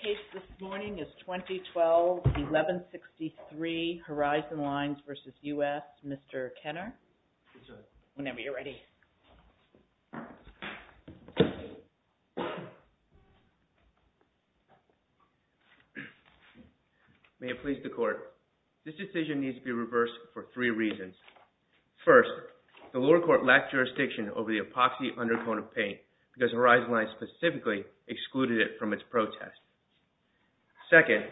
The case this morning is 2012-1163 Horizon Lines v. U.S. Mr. Kenner. Whenever you're ready. May it please the Court. This decision needs to be reversed for three reasons. First, the lower court lacked jurisdiction over the epoxy undercoat of paint because Horizon Lines specifically excluded it from its protest. Second,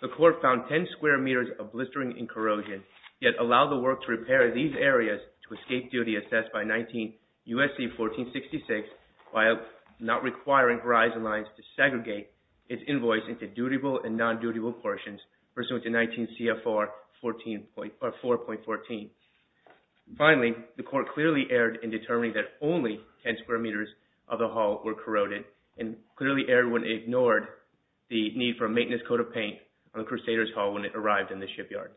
the Court found 10 square meters of blistering and corrosion, yet allowed the work to repair these areas to escape duty assessed by U.S.C. 1466 while not requiring Horizon Lines to segregate its invoice into dutiable and non-dutable portions pursuant to 19 CFR 4.14. Finally, the Court clearly erred in determining that only 10 square meters of the hull were corroded and clearly erred when it ignored the need for a maintenance coat of paint on the Crusader's hull when it arrived in the shipyard.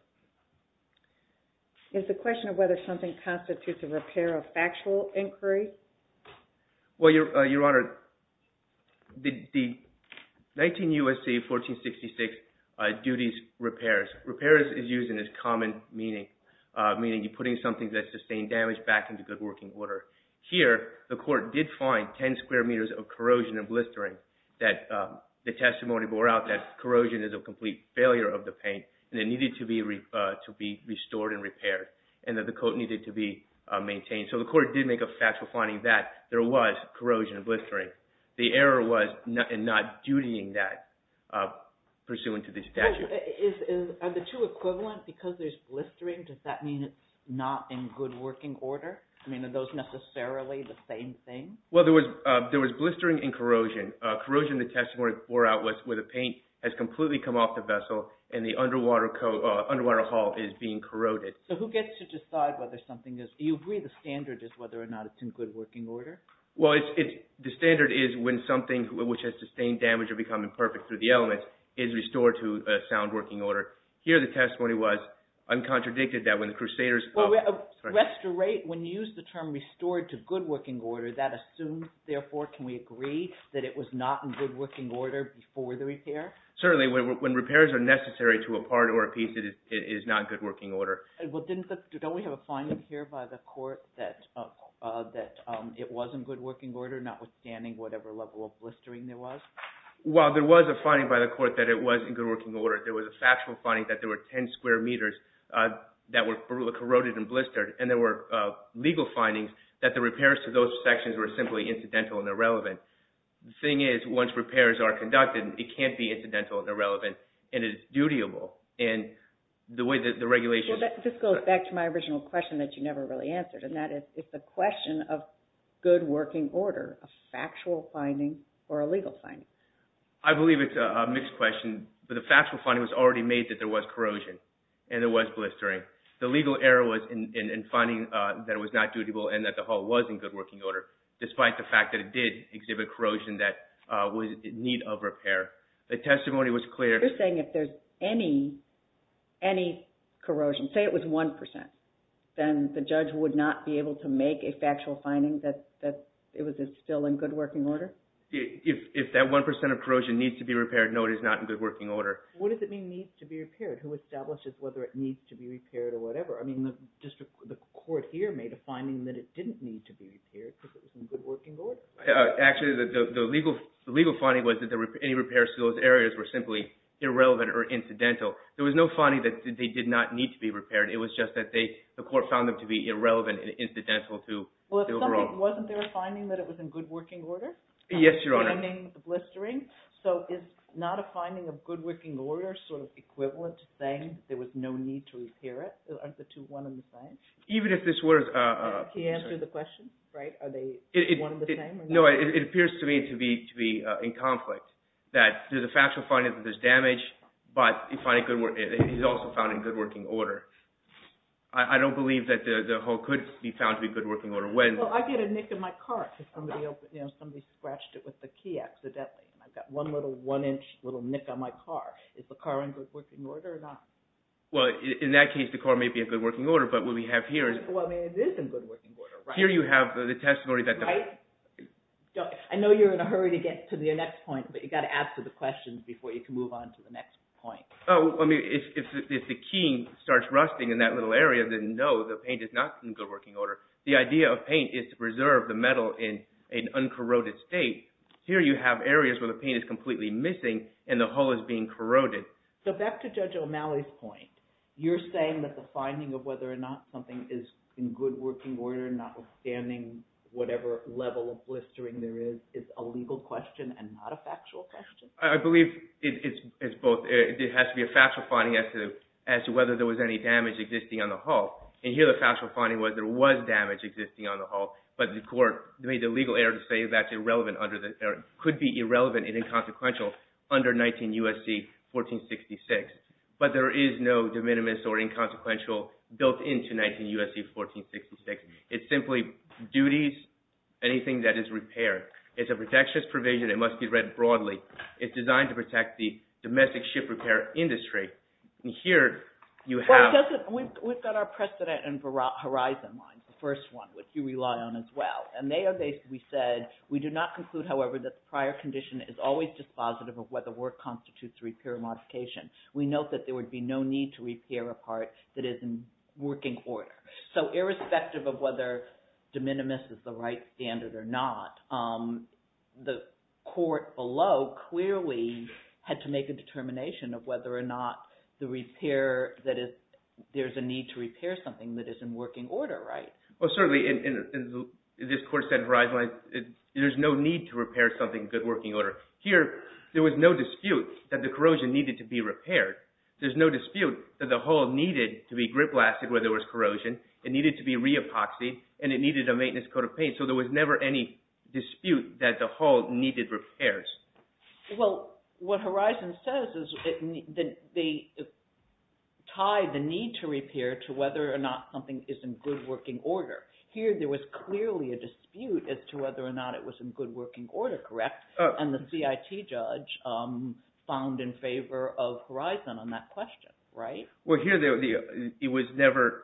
Is the question of whether something constitutes a repair a factual inquiry? Well, Your Honor, the 19 U.S.C. 1466 duties repairs. Repairs is used in its common meaning, meaning you're putting something that sustained damage back into good working order. Here, the Court did find 10 square meters of corrosion and blistering that the testimony bore out that corrosion is a complete failure of the paint and it needed to be restored and repaired and that the coat needed to be maintained. So the Court did make a factual finding that there was corrosion and blistering. The error was in not dutying that pursuant to the statute. Are the two equivalent? Because there's blistering, does that mean it's not in good working order? I mean, are those necessarily the same thing? Well, there was blistering and corrosion. Corrosion, the testimony bore out was where the paint has completely come off the vessel and the underwater hull is being corroded. So who gets to decide whether something is – do you agree the standard is whether or not it's in good working order? Well, the standard is when something which has sustained damage or become imperfect through the elements is restored to sound working order. Here, the testimony was uncontradicted that when the Crusaders – Restorate, when you use the term restored to good working order, that assumes, therefore, can we agree that it was not in good working order before the repair? Certainly. When repairs are necessary to a part or a piece, it is not in good working order. Well, don't we have a finding here by the court that it was in good working order, notwithstanding whatever level of blistering there was? Well, there was a finding by the court that it was in good working order. There was a factual finding that there were 10 square meters that were corroded and blistered. And there were legal findings that the repairs to those sections were simply incidental and irrelevant. The thing is, once repairs are conducted, it can't be incidental and irrelevant, and it's dutiable. This goes back to my original question that you never really answered, and that is, is the question of good working order a factual finding or a legal finding? I believe it's a mixed question, but the factual finding was already made that there was corrosion and there was blistering. The legal error was in finding that it was not dutiable and that the hull was in good working order, despite the fact that it did exhibit corrosion that was in need of repair. The testimony was clear. You're saying if there's any corrosion, say it was 1%, then the judge would not be able to make a factual finding that it was still in good working order? If that 1% of corrosion needs to be repaired, no, it is not in good working order. What does it mean, needs to be repaired? Who establishes whether it needs to be repaired or whatever? I mean, the court here made a finding that it didn't need to be repaired because it was in good working order. Actually, the legal finding was that any repairs to those areas were simply irrelevant or incidental. There was no finding that they did not need to be repaired. It was just that the court found them to be irrelevant and incidental to the overall… Wasn't there a finding that it was in good working order? Yes, Your Honor. Blistering. So is not a finding of good working order sort of equivalent to saying there was no need to repair it? Aren't the two one and the same? Even if this were… Can you answer the question? Are they one and the same? No, it appears to me to be in conflict, that there's a factual finding that there's damage, but it's also found in good working order. I don't believe that the hole could be found to be good working order. Well, I get a nick in my car because somebody scratched it with the key accidentally. I've got one little one-inch little nick on my car. Is the car in good working order or not? Well, in that case, the car may be in good working order, but what we have here is… Well, I mean, it is in good working order, right? Here you have the testimony that… Right? I know you're in a hurry to get to the next point, but you've got to answer the questions before you can move on to the next point. Oh, I mean, if the key starts rusting in that little area, then no, the paint is not in good working order. The idea of paint is to preserve the metal in an uncorroded state. Here you have areas where the paint is completely missing and the hole is being corroded. So back to Judge O'Malley's point, you're saying that the finding of whether or not something is in good working order, notwithstanding whatever level of blistering there is, is a legal question and not a factual question? I believe it has to be a factual finding as to whether there was any damage existing on the hole. And here the factual finding was there was damage existing on the hole, but the court made the legal error to say that could be irrelevant and inconsequential under 19 U.S.C. 1466. But there is no de minimis or inconsequential built into 19 U.S.C. 1466. It simply duties anything that is repaired. It's a protectionist provision. It must be read broadly. It's designed to protect the domestic ship repair industry. And here you have… We've got our precedent and horizon lines, the first one, which you rely on as well. And we said we do not conclude, however, that the prior condition is always dispositive of whether work constitutes repair or modification. We note that there would be no need to repair a part that is in working order. So irrespective of whether de minimis is the right standard or not, the court below clearly had to make a determination of whether or not the repair that is – there's a need to repair something that is in working order, right? Well, certainly, and this court said horizon lines, there's no need to repair something in good working order. Here there was no dispute that the corrosion needed to be repaired. There's no dispute that the hole needed to be grip blasted where there was corrosion. It needed to be re-epoxied, and it needed a maintenance coat of paint. So there was never any dispute that the hole needed repairs. Well, what horizon says is that they tie the need to repair to whether or not something is in good working order. Here there was clearly a dispute as to whether or not it was in good working order, correct? And the CIT judge found in favor of horizon on that question, right? Well, here it was never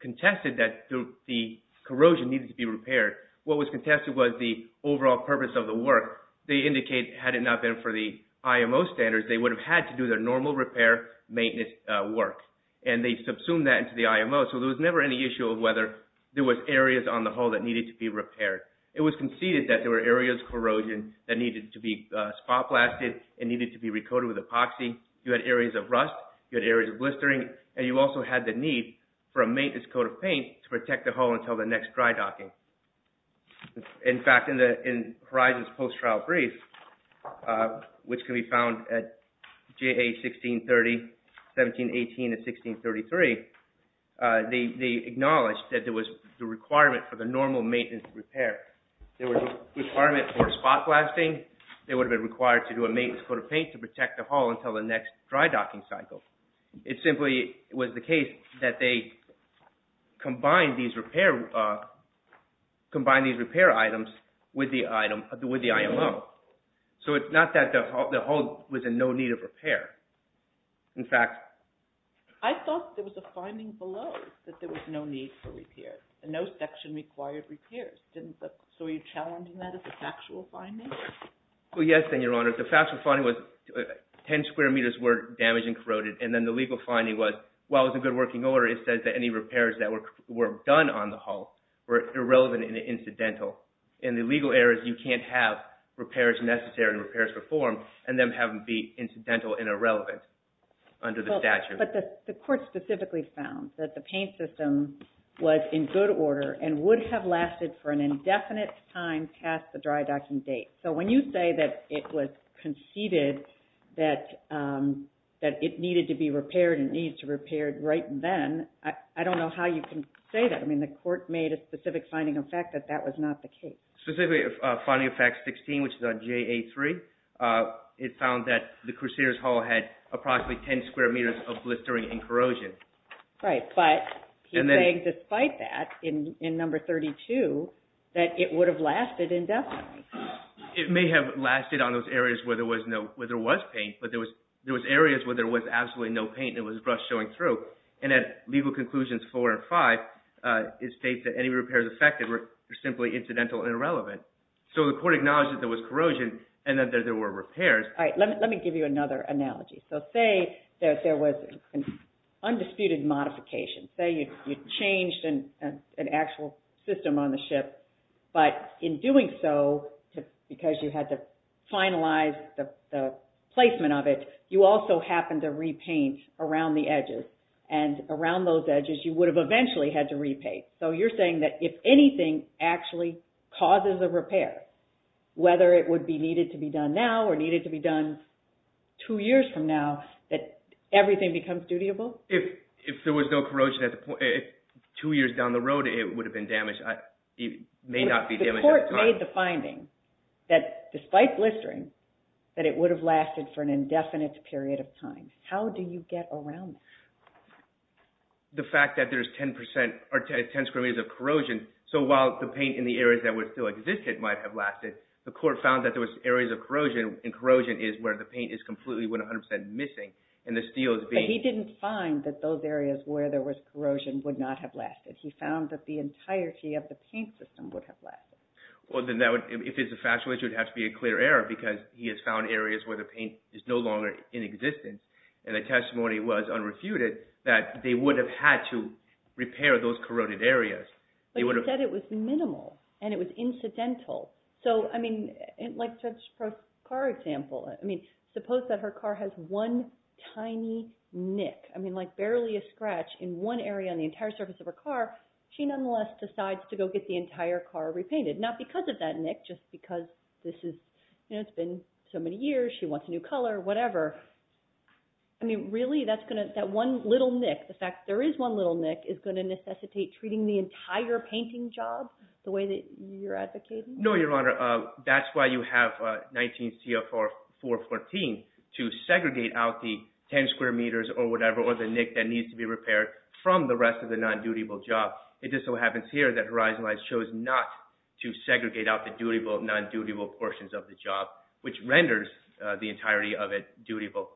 contested that the corrosion needed to be repaired. What was contested was the overall purpose of the work. They indicate had it not been for the IMO standards, they would have had to do their normal repair maintenance work, and they subsumed that into the IMO. So there was never any issue of whether there was areas on the hole that needed to be repaired. It was conceded that there were areas of corrosion that needed to be spot blasted and needed to be re-coated with epoxy. You had areas of rust. You had areas of blistering. And you also had the need for a maintenance coat of paint to protect the hole until the next dry docking. In fact, in horizon's post-trial brief, which can be found at JAH 1630, 1718, and 1633, they acknowledged that there was the requirement for the normal maintenance repair. There was a requirement for spot blasting. They would have been required to do a maintenance coat of paint to protect the hole until the next dry docking cycle. It simply was the case that they combined these repair items with the IMO. So it's not that the hole was in no need of repair. In fact, I thought there was a finding below that there was no need for repair. No section required repairs. So were you challenging that as a factual finding? Well, yes, Your Honor. The factual finding was 10 square meters were damaged and corroded. And then the legal finding was, while it was in good working order, it says that any repairs that were done on the hole were irrelevant and incidental. In the legal areas, you can't have repairs necessary and repairs performed and then have them be incidental and irrelevant under the statute. But the court specifically found that the paint system was in good order and would have lasted for an indefinite time past the dry docking date. So when you say that it was conceded that it needed to be repaired and needs to be repaired right then, I don't know how you can say that. I mean, the court made a specific finding of fact that that was not the case. Specifically, finding of fact 16, which is on JA3, it found that the Crusader's Hole had approximately 10 square meters of blistering and corrosion. Right, but he's saying despite that, in number 32, that it would have lasted indefinitely. It may have lasted on those areas where there was paint, but there was areas where there was absolutely no paint and it was brush showing through. And at legal conclusions 4 and 5, it states that any repairs affected were simply incidental and irrelevant. So the court acknowledged that there was corrosion and that there were repairs. All right, let me give you another analogy. So say that there was an undisputed modification. Say you changed an actual system on the ship, but in doing so, because you had to finalize the placement of it, you also happened to repaint around the edges. And around those edges, you would have eventually had to repaint. So you're saying that if anything actually causes a repair, whether it would be needed to be done now or needed to be done two years from now, that everything becomes dutiable? If there was no corrosion two years down the road, it would have been damaged. It may not be damaged at the time. The court made the finding that despite blistering, that it would have lasted for an indefinite period of time. How do you get around this? The fact that there's 10 percent or 10 square meters of corrosion, so while the paint in the areas that would still exist might have lasted, the court found that there was areas of corrosion and corrosion is where the paint is completely 100 percent missing and the steel is being… But he didn't find that those areas where there was corrosion would not have lasted. He found that the entirety of the paint system would have lasted. Well, then if it's a factual issue, it would have to be a clear error because he has found areas where the paint is no longer in existence, and the testimony was unrefuted that they would have had to repair those corroded areas. But he said it was minimal and it was incidental. So, I mean, like such a car example, I mean, suppose that her car has one tiny nick, I mean, like barely a scratch in one area on the entire surface of her car, she nonetheless decides to go get the entire car repainted. Not because of that nick, just because this has been so many years, she wants a new color, whatever. I mean, really, that one little nick, the fact that there is one little nick is going to necessitate treating the entire painting job the way that you're advocating? No, Your Honor, that's why you have 19 CFR 414 to segregate out the 10 square meters or whatever, or the nick that needs to be repaired from the rest of the non-dutiable job. It just so happens here that Horizonline chose not to segregate out the dutiable and non-dutiable portions of the job, which renders the entirety of it dutiable.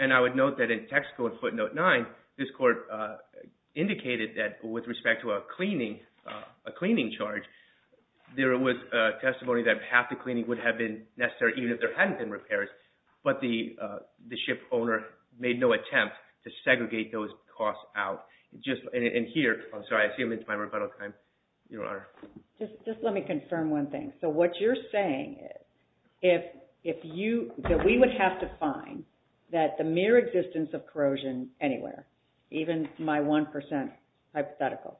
And I would note that in text code footnote 9, this court indicated that with respect to a cleaning charge, there was testimony that half the cleaning would have been necessary even if there hadn't been repairs, but the ship owner made no attempt to segregate those costs out. And here, I'm sorry, I assume it's my rebuttal time, Your Honor. Just let me confirm one thing. So what you're saying is that we would have to find that the mere existence of corrosion anywhere, even my 1% hypothetical,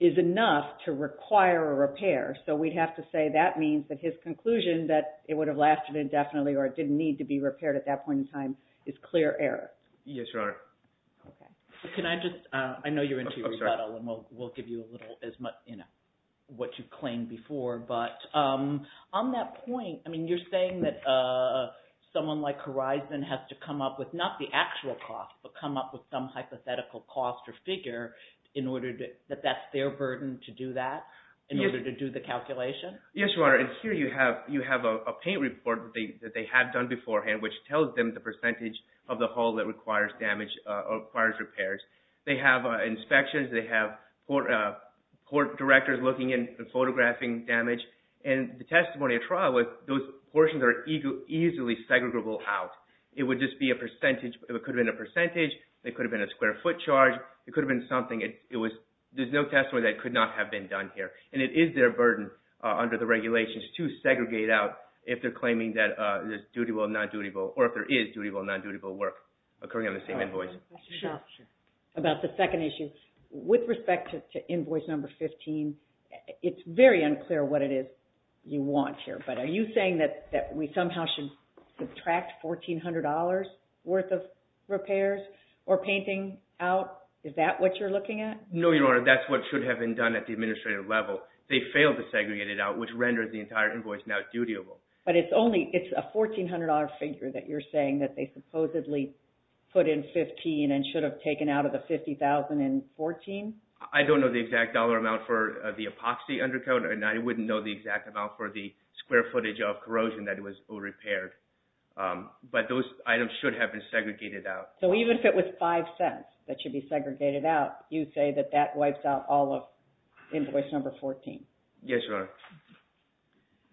is enough to require a repair. So we'd have to say that means that his conclusion that it would have lasted indefinitely or it didn't need to be repaired at that point in time is clear error. Yes, Your Honor. Can I just – I know you're into your rebuttal, and we'll give you a little, you know, what you've claimed before. But on that point, I mean, you're saying that someone like Horizon has to come up with not the actual cost, but come up with some hypothetical cost or figure that that's their burden to do that in order to do the calculation? Yes, Your Honor. And here you have a paint report that they have done beforehand, which tells them the percentage of the hull that requires damage or requires repairs. They have inspections. They have court directors looking and photographing damage. And the testimony at trial was those portions are easily segregable out. It would just be a percentage. It could have been a percentage. It could have been a square foot charge. It could have been something. It was – there's no testimony that it could not have been done here. And it is their burden under the regulations to segregate out if they're claiming that there's dutyable or non-dutyable or if there is dutyable or non-dutyable work occurring on the same invoice. About the second issue, with respect to invoice number 15, it's very unclear what it is you want here. But are you saying that we somehow should subtract $1,400 worth of repairs or painting out? Is that what you're looking at? No, Your Honor. That's what should have been done at the administrative level. They failed to segregate it out, which renders the entire invoice now dutyable. But it's only – it's a $1,400 figure that you're saying that they supposedly put in 15 and should have taken out of the $50,014? I don't know the exact dollar amount for the epoxy undercoat, and I wouldn't know the exact amount for the square footage of corrosion that was repaired. But those items should have been segregated out. So even if it was $0.05 that should be segregated out, you say that that wipes out all of invoice number 14? Yes, Your Honor.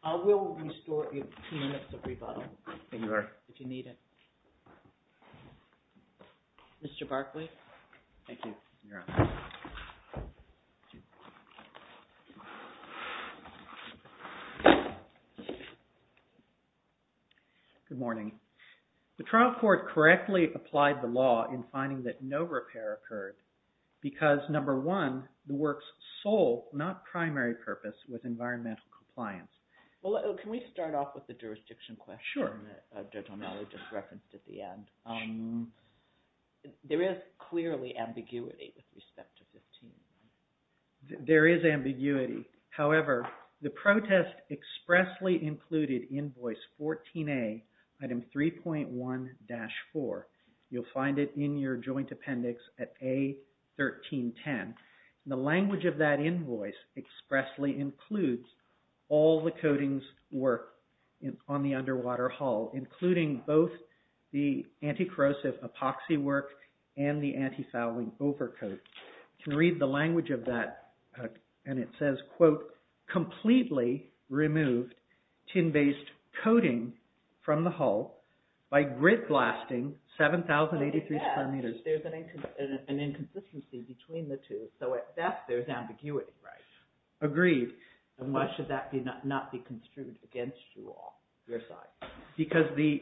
I will restore your two minutes of rebuttal. Thank you, Your Honor. If you need it. Mr. Barkley? Thank you, Your Honor. Good morning. The trial court correctly applied the law in finding that no repair occurred because, number one, the work's sole, not primary, purpose was environmental compliance. Well, can we start off with the jurisdiction question that Judge O'Malley just referenced at the end? There is clearly ambiguity with respect to 15. There is ambiguity. However, the protest expressly included invoice 14A, item 3.1-4. You'll find it in your joint appendix at A1310. The language of that invoice expressly includes all the coatings work on the underwater hull, including both the anti-corrosive epoxy work and the anti-fouling overcoat. You can read the language of that, and it says, quote, completely removed tin-based coating from the hull by grit blasting 7,083 square meters. There's an inconsistency between the two. So, at best, there's ambiguity. Agreed. And why should that not be construed against you all, your side? Because the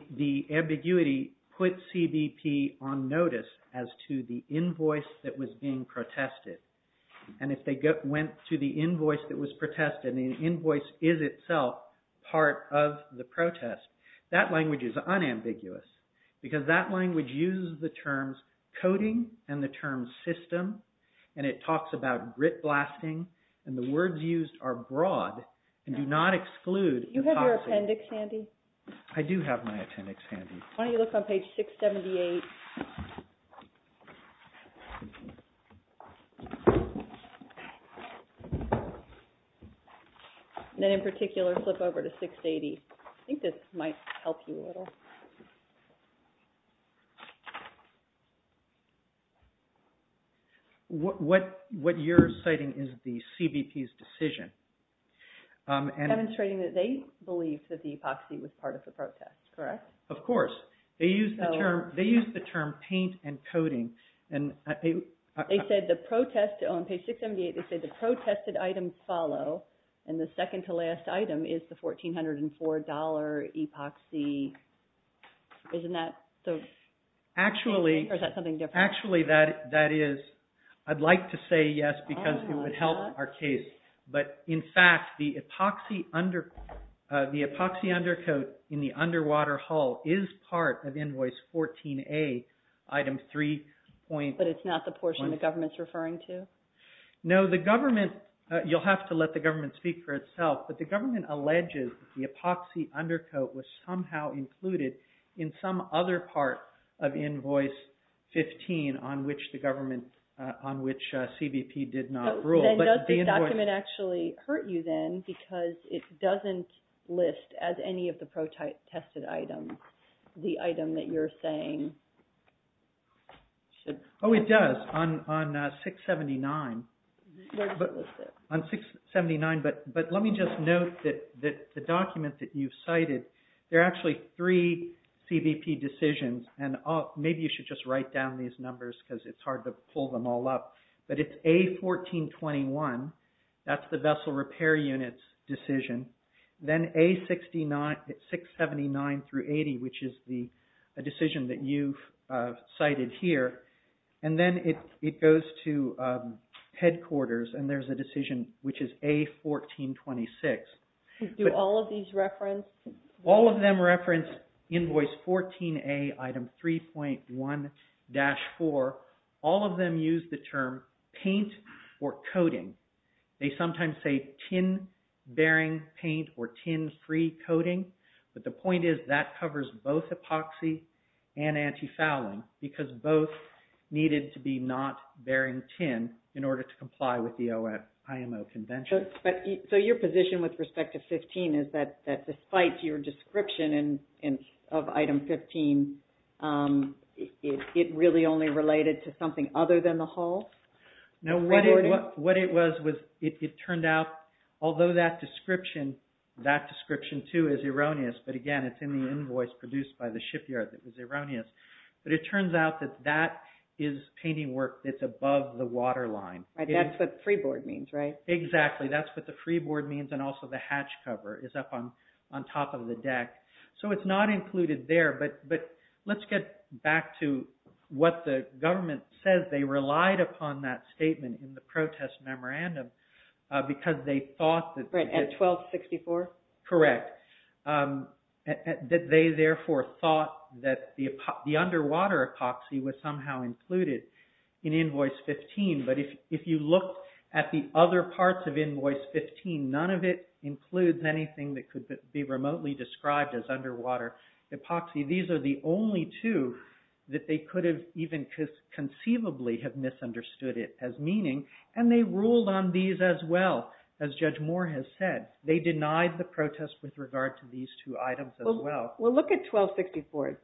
ambiguity put CBP on notice as to the invoice that was being protested. And if they went to the invoice that was protested, and the invoice is itself part of the protest, that language is unambiguous because that language uses the terms coating and the term system, and it talks about grit blasting, and the words used are broad and do not exclude epoxy. Do you have your appendix handy? I do have my appendix handy. Why don't you look on page 678. And then in particular, flip over to 680. I think this might help you a little. What you're citing is the CBP's decision. Demonstrating that they believed that the epoxy was part of the protest, correct? Of course. They used the term paint and coating. They said the protest on page 678, they said the protested items follow, and the second to last item is the $1,404 epoxy. Isn't that the... Actually... Or is that something different? Actually, that is. I'd like to say yes because it would help our case. But, in fact, the epoxy undercoat in the underwater hull is part of invoice 14A, item 3. But it's not the portion the government's referring to? No. The government, you'll have to let the government speak for itself, but the government alleges the epoxy undercoat was somehow included in some other part of invoice 15 on which the government, on which CBP did not rule. Does this document actually hurt you then because it doesn't list as any of the protested items the item that you're saying should... Oh, it does on 679. Where does it list it? On 679. But let me just note that the document that you've cited, there are actually three CBP decisions, and maybe you should just write down these numbers because it's hard to pull them all up. But it's A1421. That's the vessel repair unit's decision. Then A679-80, which is the decision that you've cited here. And then it goes to headquarters, and there's a decision which is A1426. Do all of these reference... All of them reference invoice 14A, item 3.1-4. All of them use the term paint or coating. They sometimes say tin-bearing paint or tin-free coating, but the point is that covers both epoxy and anti-fouling because both needed to be not bearing tin in order to comply with the IMO convention. So your position with respect to 15 is that despite your description of item 15, it really only related to something other than the hull? No, what it was was it turned out, although that description, that description too is erroneous, but again, it's in the invoice produced by the shipyard that was erroneous. But it turns out that that is painting work that's above the waterline. That's what pre-board means, right? Exactly, that's what the pre-board means, and also the hatch cover is up on top of the deck. So it's not included there, but let's get back to what the government says. They relied upon that statement in the protest memorandum because they thought that... At 1264? Correct. They therefore thought that the underwater epoxy was somehow included in invoice 15, but if you look at the other parts of invoice 15, none of it includes anything that could be remotely described as underwater epoxy. These are the only two that they could have even conceivably have misunderstood it as meaning, and they ruled on these as well, as Judge Moore has said. They denied the protest with regard to these two items as well. Well, look at 1264.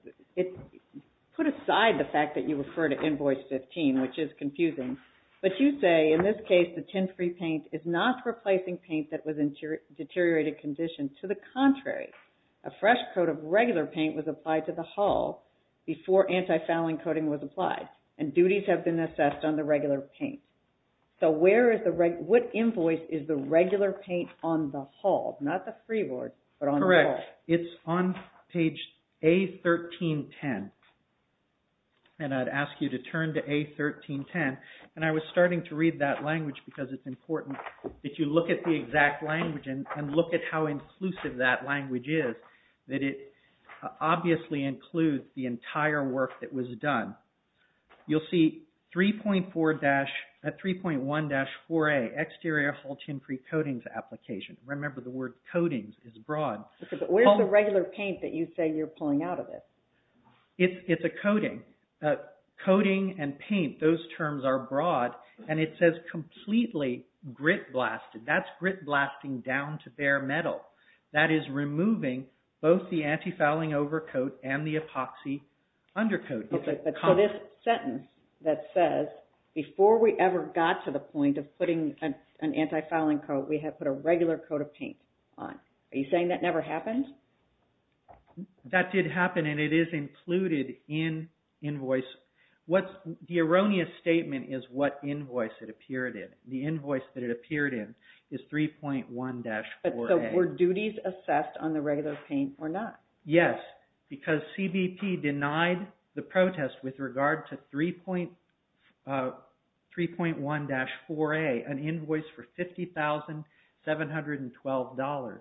Put aside the fact that you refer to invoice 15, which is confusing, but you say, in this case, the tin-free paint is not replacing paint that was in deteriorated condition. To the contrary, a fresh coat of regular paint was applied to the hull before anti-fouling coating was applied, and duties have been assessed on the regular paint. So what invoice is the regular paint on the hull, not the pre-board, but on the hull? It's on page A1310, and I'd ask you to turn to A1310, and I was starting to read that language because it's important that you look at the exact language and look at how inclusive that language is, that it obviously includes the entire work that was done. You'll see 3.1-4A, exterior hull tin-free coatings application. Remember the word coatings is broad. Where's the regular paint that you say you're pulling out of this? It's a coating. Coating and paint, those terms are broad, and it says completely grit-blasted. That's grit-blasting down to bare metal. That is removing both the anti-fouling overcoat and the epoxy undercoat. So this sentence that says, before we ever got to the point of putting an anti-fouling coat, we had put a regular coat of paint on. Are you saying that never happened? That did happen, and it is included in invoice. The erroneous statement is what invoice it appeared in. The invoice that it appeared in is 3.1-4A. So were duties assessed on the regular paint or not? Yes, because CBP denied the protest with regard to 3.1-4A, an invoice for $50,712.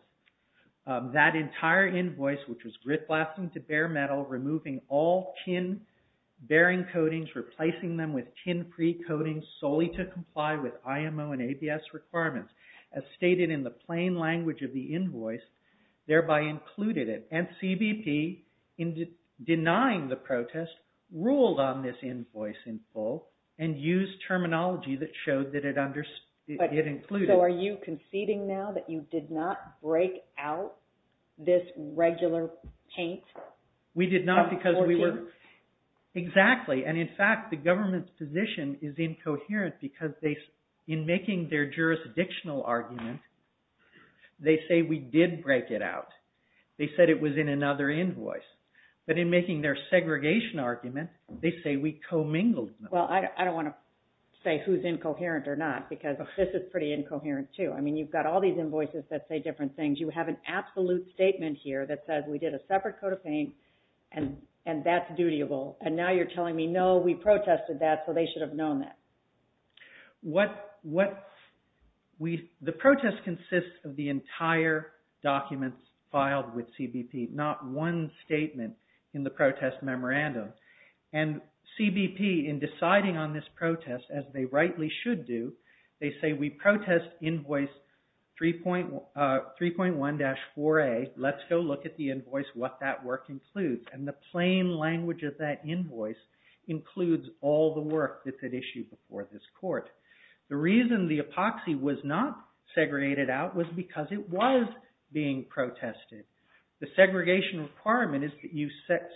That entire invoice, which was grit-blasting to bare metal, removing all tin-bearing coatings, replacing them with tin-free coatings solely to comply with IMO and ABS requirements, as stated in the plain language of the invoice, thereby included it. And CBP, in denying the protest, ruled on this invoice in full, and used terminology that showed that it included it. So are you conceding now that you did not break out this regular paint? We did not because we were... For you? Exactly, and in fact the government's position is incoherent because in making their jurisdictional argument, they say we did break it out. They said it was in another invoice. But in making their segregation argument, they say we commingled them. Well, I don't want to say who's incoherent or not because this is pretty incoherent too. I mean, you've got all these invoices that say different things. You have an absolute statement here that says we did a separate coat of paint and that's dutiable. And now you're telling me, no, we protested that, so they should have known that. The protest consists of the entire document filed with CBP, not one statement in the protest memorandum. And CBP, in deciding on this protest, as they rightly should do, they say we protest invoice 3.1-4A. Let's go look at the invoice, what that work includes. And the plain language of that invoice includes all the work that's at issue before this court. The reason the epoxy was not segregated out was because it was being protested. The segregation requirement is that you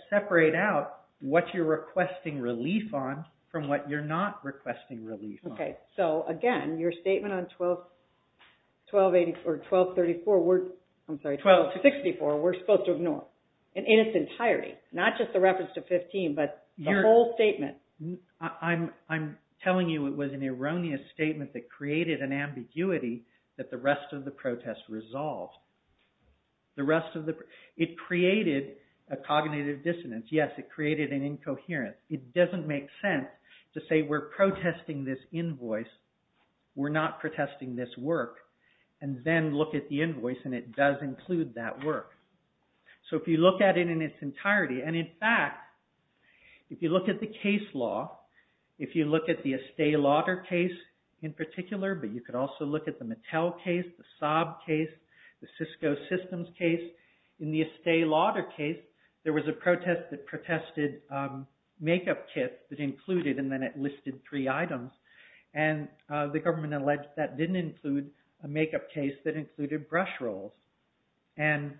separate out what you're requesting relief on from what you're not requesting relief on. So, again, your statement on 12-64, we're supposed to ignore. In its entirety. Not just the reference to 15, but the whole statement. I'm telling you it was an erroneous statement that created an ambiguity that the rest of the protest resolved. It created a cognitive dissonance. Yes, it created an incoherence. It doesn't make sense to say we're protesting this invoice, we're not protesting this work, and then look at the invoice and it does include that work. So if you look at it in its entirety, and in fact, if you look at the case law, if you look at the Estee Lauder case in particular, but you could also look at the Mattel case, the Saab case, the Cisco Systems case. In the Estee Lauder case, there was a protest that protested makeup kits that included, and then it listed three items. And the government alleged that didn't include a makeup case that included brush rolls. And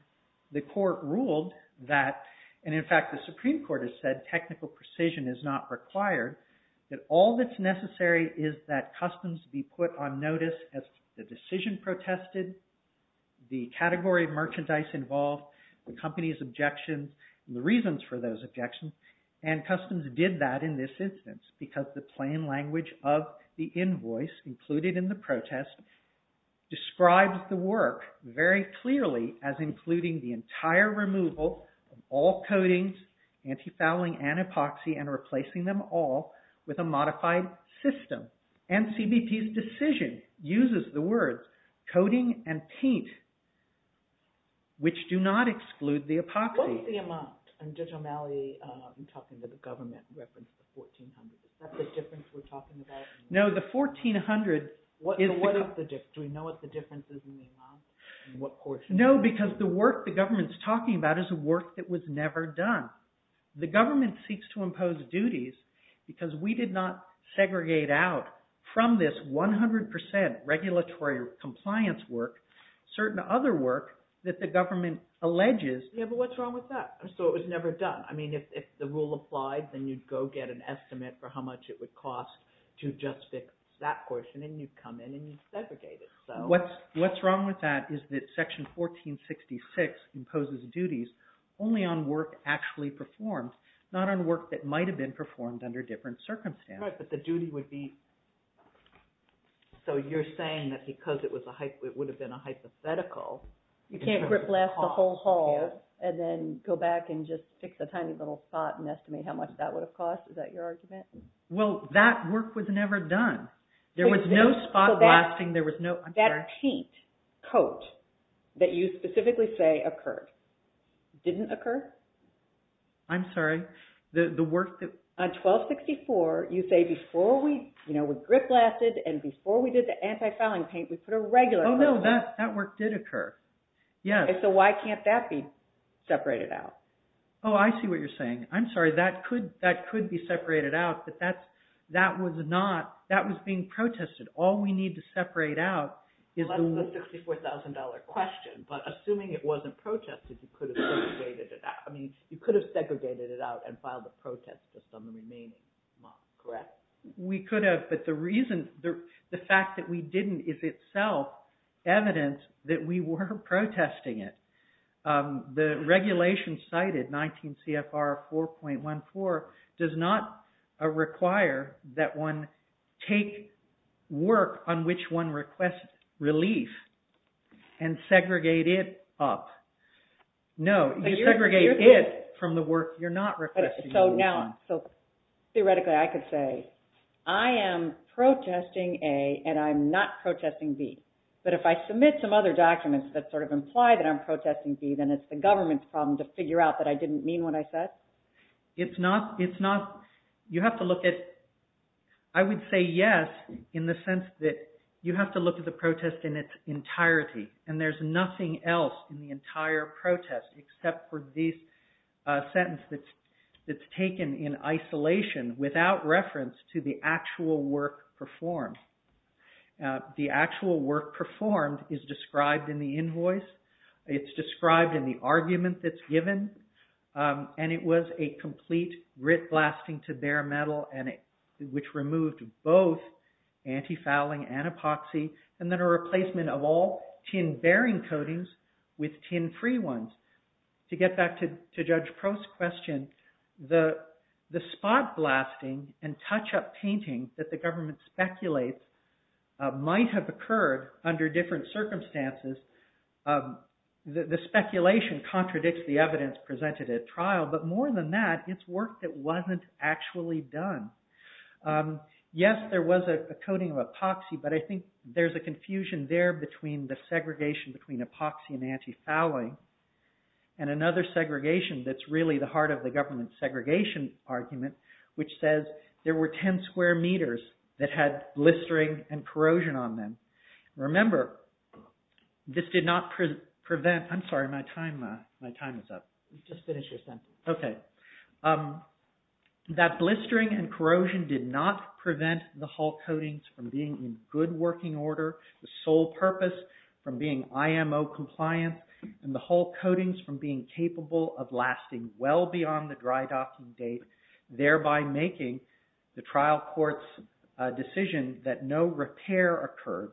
the court ruled that, and in fact the Supreme Court has said technical precision is not required, that all that's necessary is that customs be put on notice as the decision protested, the category of merchandise involved, the company's objections, the reasons for those objections, and customs did that in this instance because the plain language of the invoice included in the protest describes the work very clearly as including the entire removal of all coatings, anti-fouling and epoxy, and replacing them all with a modified system. And CBP's decision uses the words coating and paint, which do not exclude the epoxy. What is the amount? And Judge O'Malley, you're talking to the government in reference to 1400. Is that the difference we're talking about? No, the 1400 is the... Do we know what the difference is in the amount? In what portion? No, because the work the government's talking about is a work that was never done. The government seeks to impose duties because we did not segregate out from this 100% regulatory compliance work certain other work that the government alleges... Yeah, but what's wrong with that? So it was never done. I mean, if the rule applied, then you'd go get an estimate for how much it would cost to just fix that portion and you'd come in and you'd segregate it. What's wrong with that is that Section 1466 imposes duties only on work actually performed, not on work that might have been performed under different circumstances. Right, but the duty would be... So you're saying that because it would have been a hypothetical... You can't rip blast the whole hall and then go back and just fix a tiny little spot and estimate how much that would have cost. Is that your argument? Well, that work was never done. There was no spot blasting, there was no... That paint coat that you specifically say occurred, didn't occur? I'm sorry, the work that... On 1264, you say before we rip blasted and before we did the anti-fouling paint, we put a regular... Oh no, that work did occur. So why can't that be separated out? Oh, I see what you're saying. I'm sorry, that could be separated out, but that was being protested. All we need to separate out is the... That's the $64,000 question, but assuming it wasn't protested, you could have segregated it out. I mean, you could have segregated it out and filed a protest on the remaining month, correct? We could have, but the reason, the fact that we didn't is itself evidence that we were protesting it. The regulation cited, 19 CFR 4.14, does not require that one take work on which one requests relief and segregate it up. No, you segregate it from the work you're not requesting relief on. Theoretically, I could say, I am protesting A and I'm not protesting B. But if I submit some other documents that sort of imply that I'm protesting B, then it's the government's problem to figure out that I didn't mean what I said? It's not, you have to look at, I would say yes, in the sense that you have to look at the protest in its entirety. And there's nothing else in the entire protest except for this sentence that's taken in isolation without reference to the actual work performed. The actual work performed is described in the invoice. It's described in the argument that's given. And it was a complete grit blasting to bare metal, which removed both anti-fouling and epoxy, and then a replacement of all tin-bearing coatings with tin-free ones. To get back to Judge Prost's question, the spot blasting and touch-up painting that the government speculates might have occurred under different circumstances. The speculation contradicts the evidence presented at trial, but more than that, it's work that wasn't actually done. Yes, there was a coating of epoxy, but I think there's a confusion there between the segregation between epoxy and anti-fouling, and another segregation that's really the heart of the government's segregation argument, which says there were 10 square meters that had blistering and corrosion on them. Remember, this did not prevent, I'm sorry, my time is up. Just finish your sentence. Okay, that blistering and corrosion did not prevent the Hull coatings from being in good working order, the sole purpose from being IMO compliant, and the Hull coatings from being capable of lasting well beyond the dry docking date, thereby making the trial court's decision that no repair occurred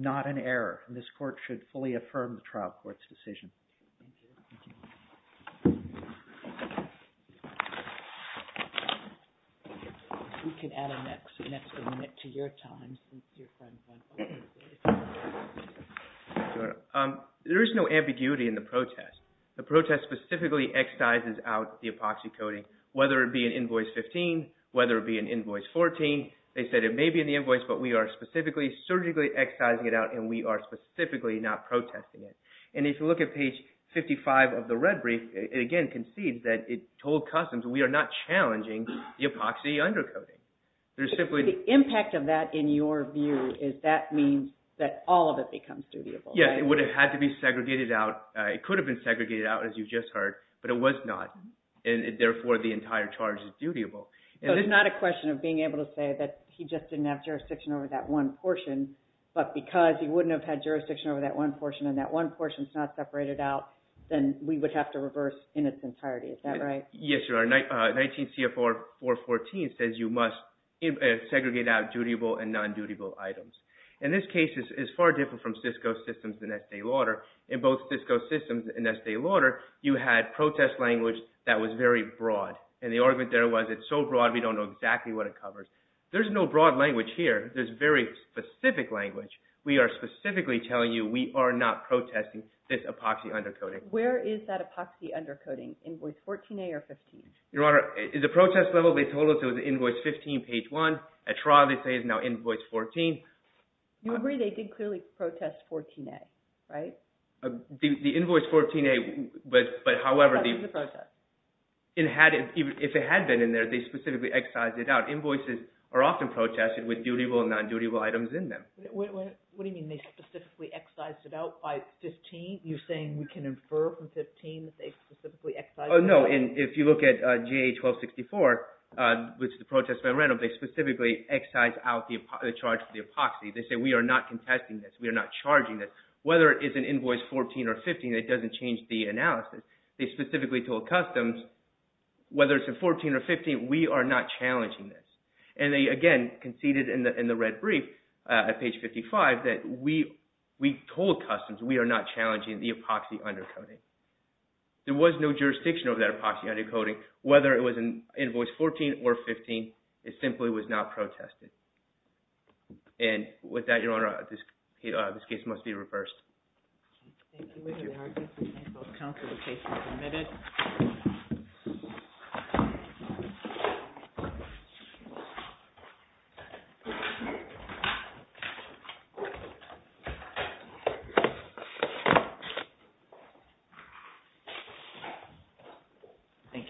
not an error. This court should fully affirm the trial court's decision. Thank you. We can add an extra minute to your time. There is no ambiguity in the protest. The protest specifically excises out the epoxy coating, whether it be in Invoice 15, whether it be in Invoice 14. They said it may be in the invoice, but we are specifically surgically excising it out, and we are specifically not protesting it. And if you look at page 55 of the red brief, it again concedes that it told Customs we are not challenging the epoxy undercoating. The impact of that in your view is that means that all of it becomes dutiable. Yes, it would have had to be segregated out. It could have been segregated out, as you just heard, but it was not, and therefore the entire charge is dutiable. So it's not a question of being able to say that he just didn't have jurisdiction over that one portion, but because he wouldn't have had jurisdiction over that one portion and that one portion is not separated out, then we would have to reverse in its entirety. Is that right? Yes, Your Honor. 19 C.F.R. 414 says you must segregate out dutiable and non-dutiable items. And this case is far different from Cisco Systems and Estee Lauder. In both Cisco Systems and Estee Lauder, you had protest language that was very broad, and the argument there was it's so broad we don't know exactly what it covers. There's no broad language here. There's very specific language. We are specifically telling you we are not protesting this epoxy undercoating. Where is that epoxy undercoating? Invoice 14A or 15? Your Honor, at the protest level, they told us it was invoice 15, page 1. At trial, they say it's now invoice 14. You agree they did clearly protest 14A, right? The invoice 14A, but however— That was the protest. If it had been in there, they specifically excised it out. Invoices are often protested with dutiable and non-dutiable items in them. What do you mean they specifically excised it out by 15? You're saying we can infer from 15 that they specifically excised it out? Oh, no. If you look at GA 1264, which the protest went around, they specifically excised out the charge for the epoxy. They say we are not contesting this. We are not charging this. Whether it is an invoice 14 or 15, it doesn't change the analysis. They specifically told Customs, whether it's a 14 or 15, we are not challenging this. And they, again, conceded in the red brief at page 55 that we told Customs we are not challenging the epoxy undercoating. There was no jurisdiction over that epoxy undercoating. Whether it was invoice 14 or 15, it simply was not protested. And with that, Your Honor, this case must be reversed. Thank you, Mr. Harkins. This case is submitted. Thank you.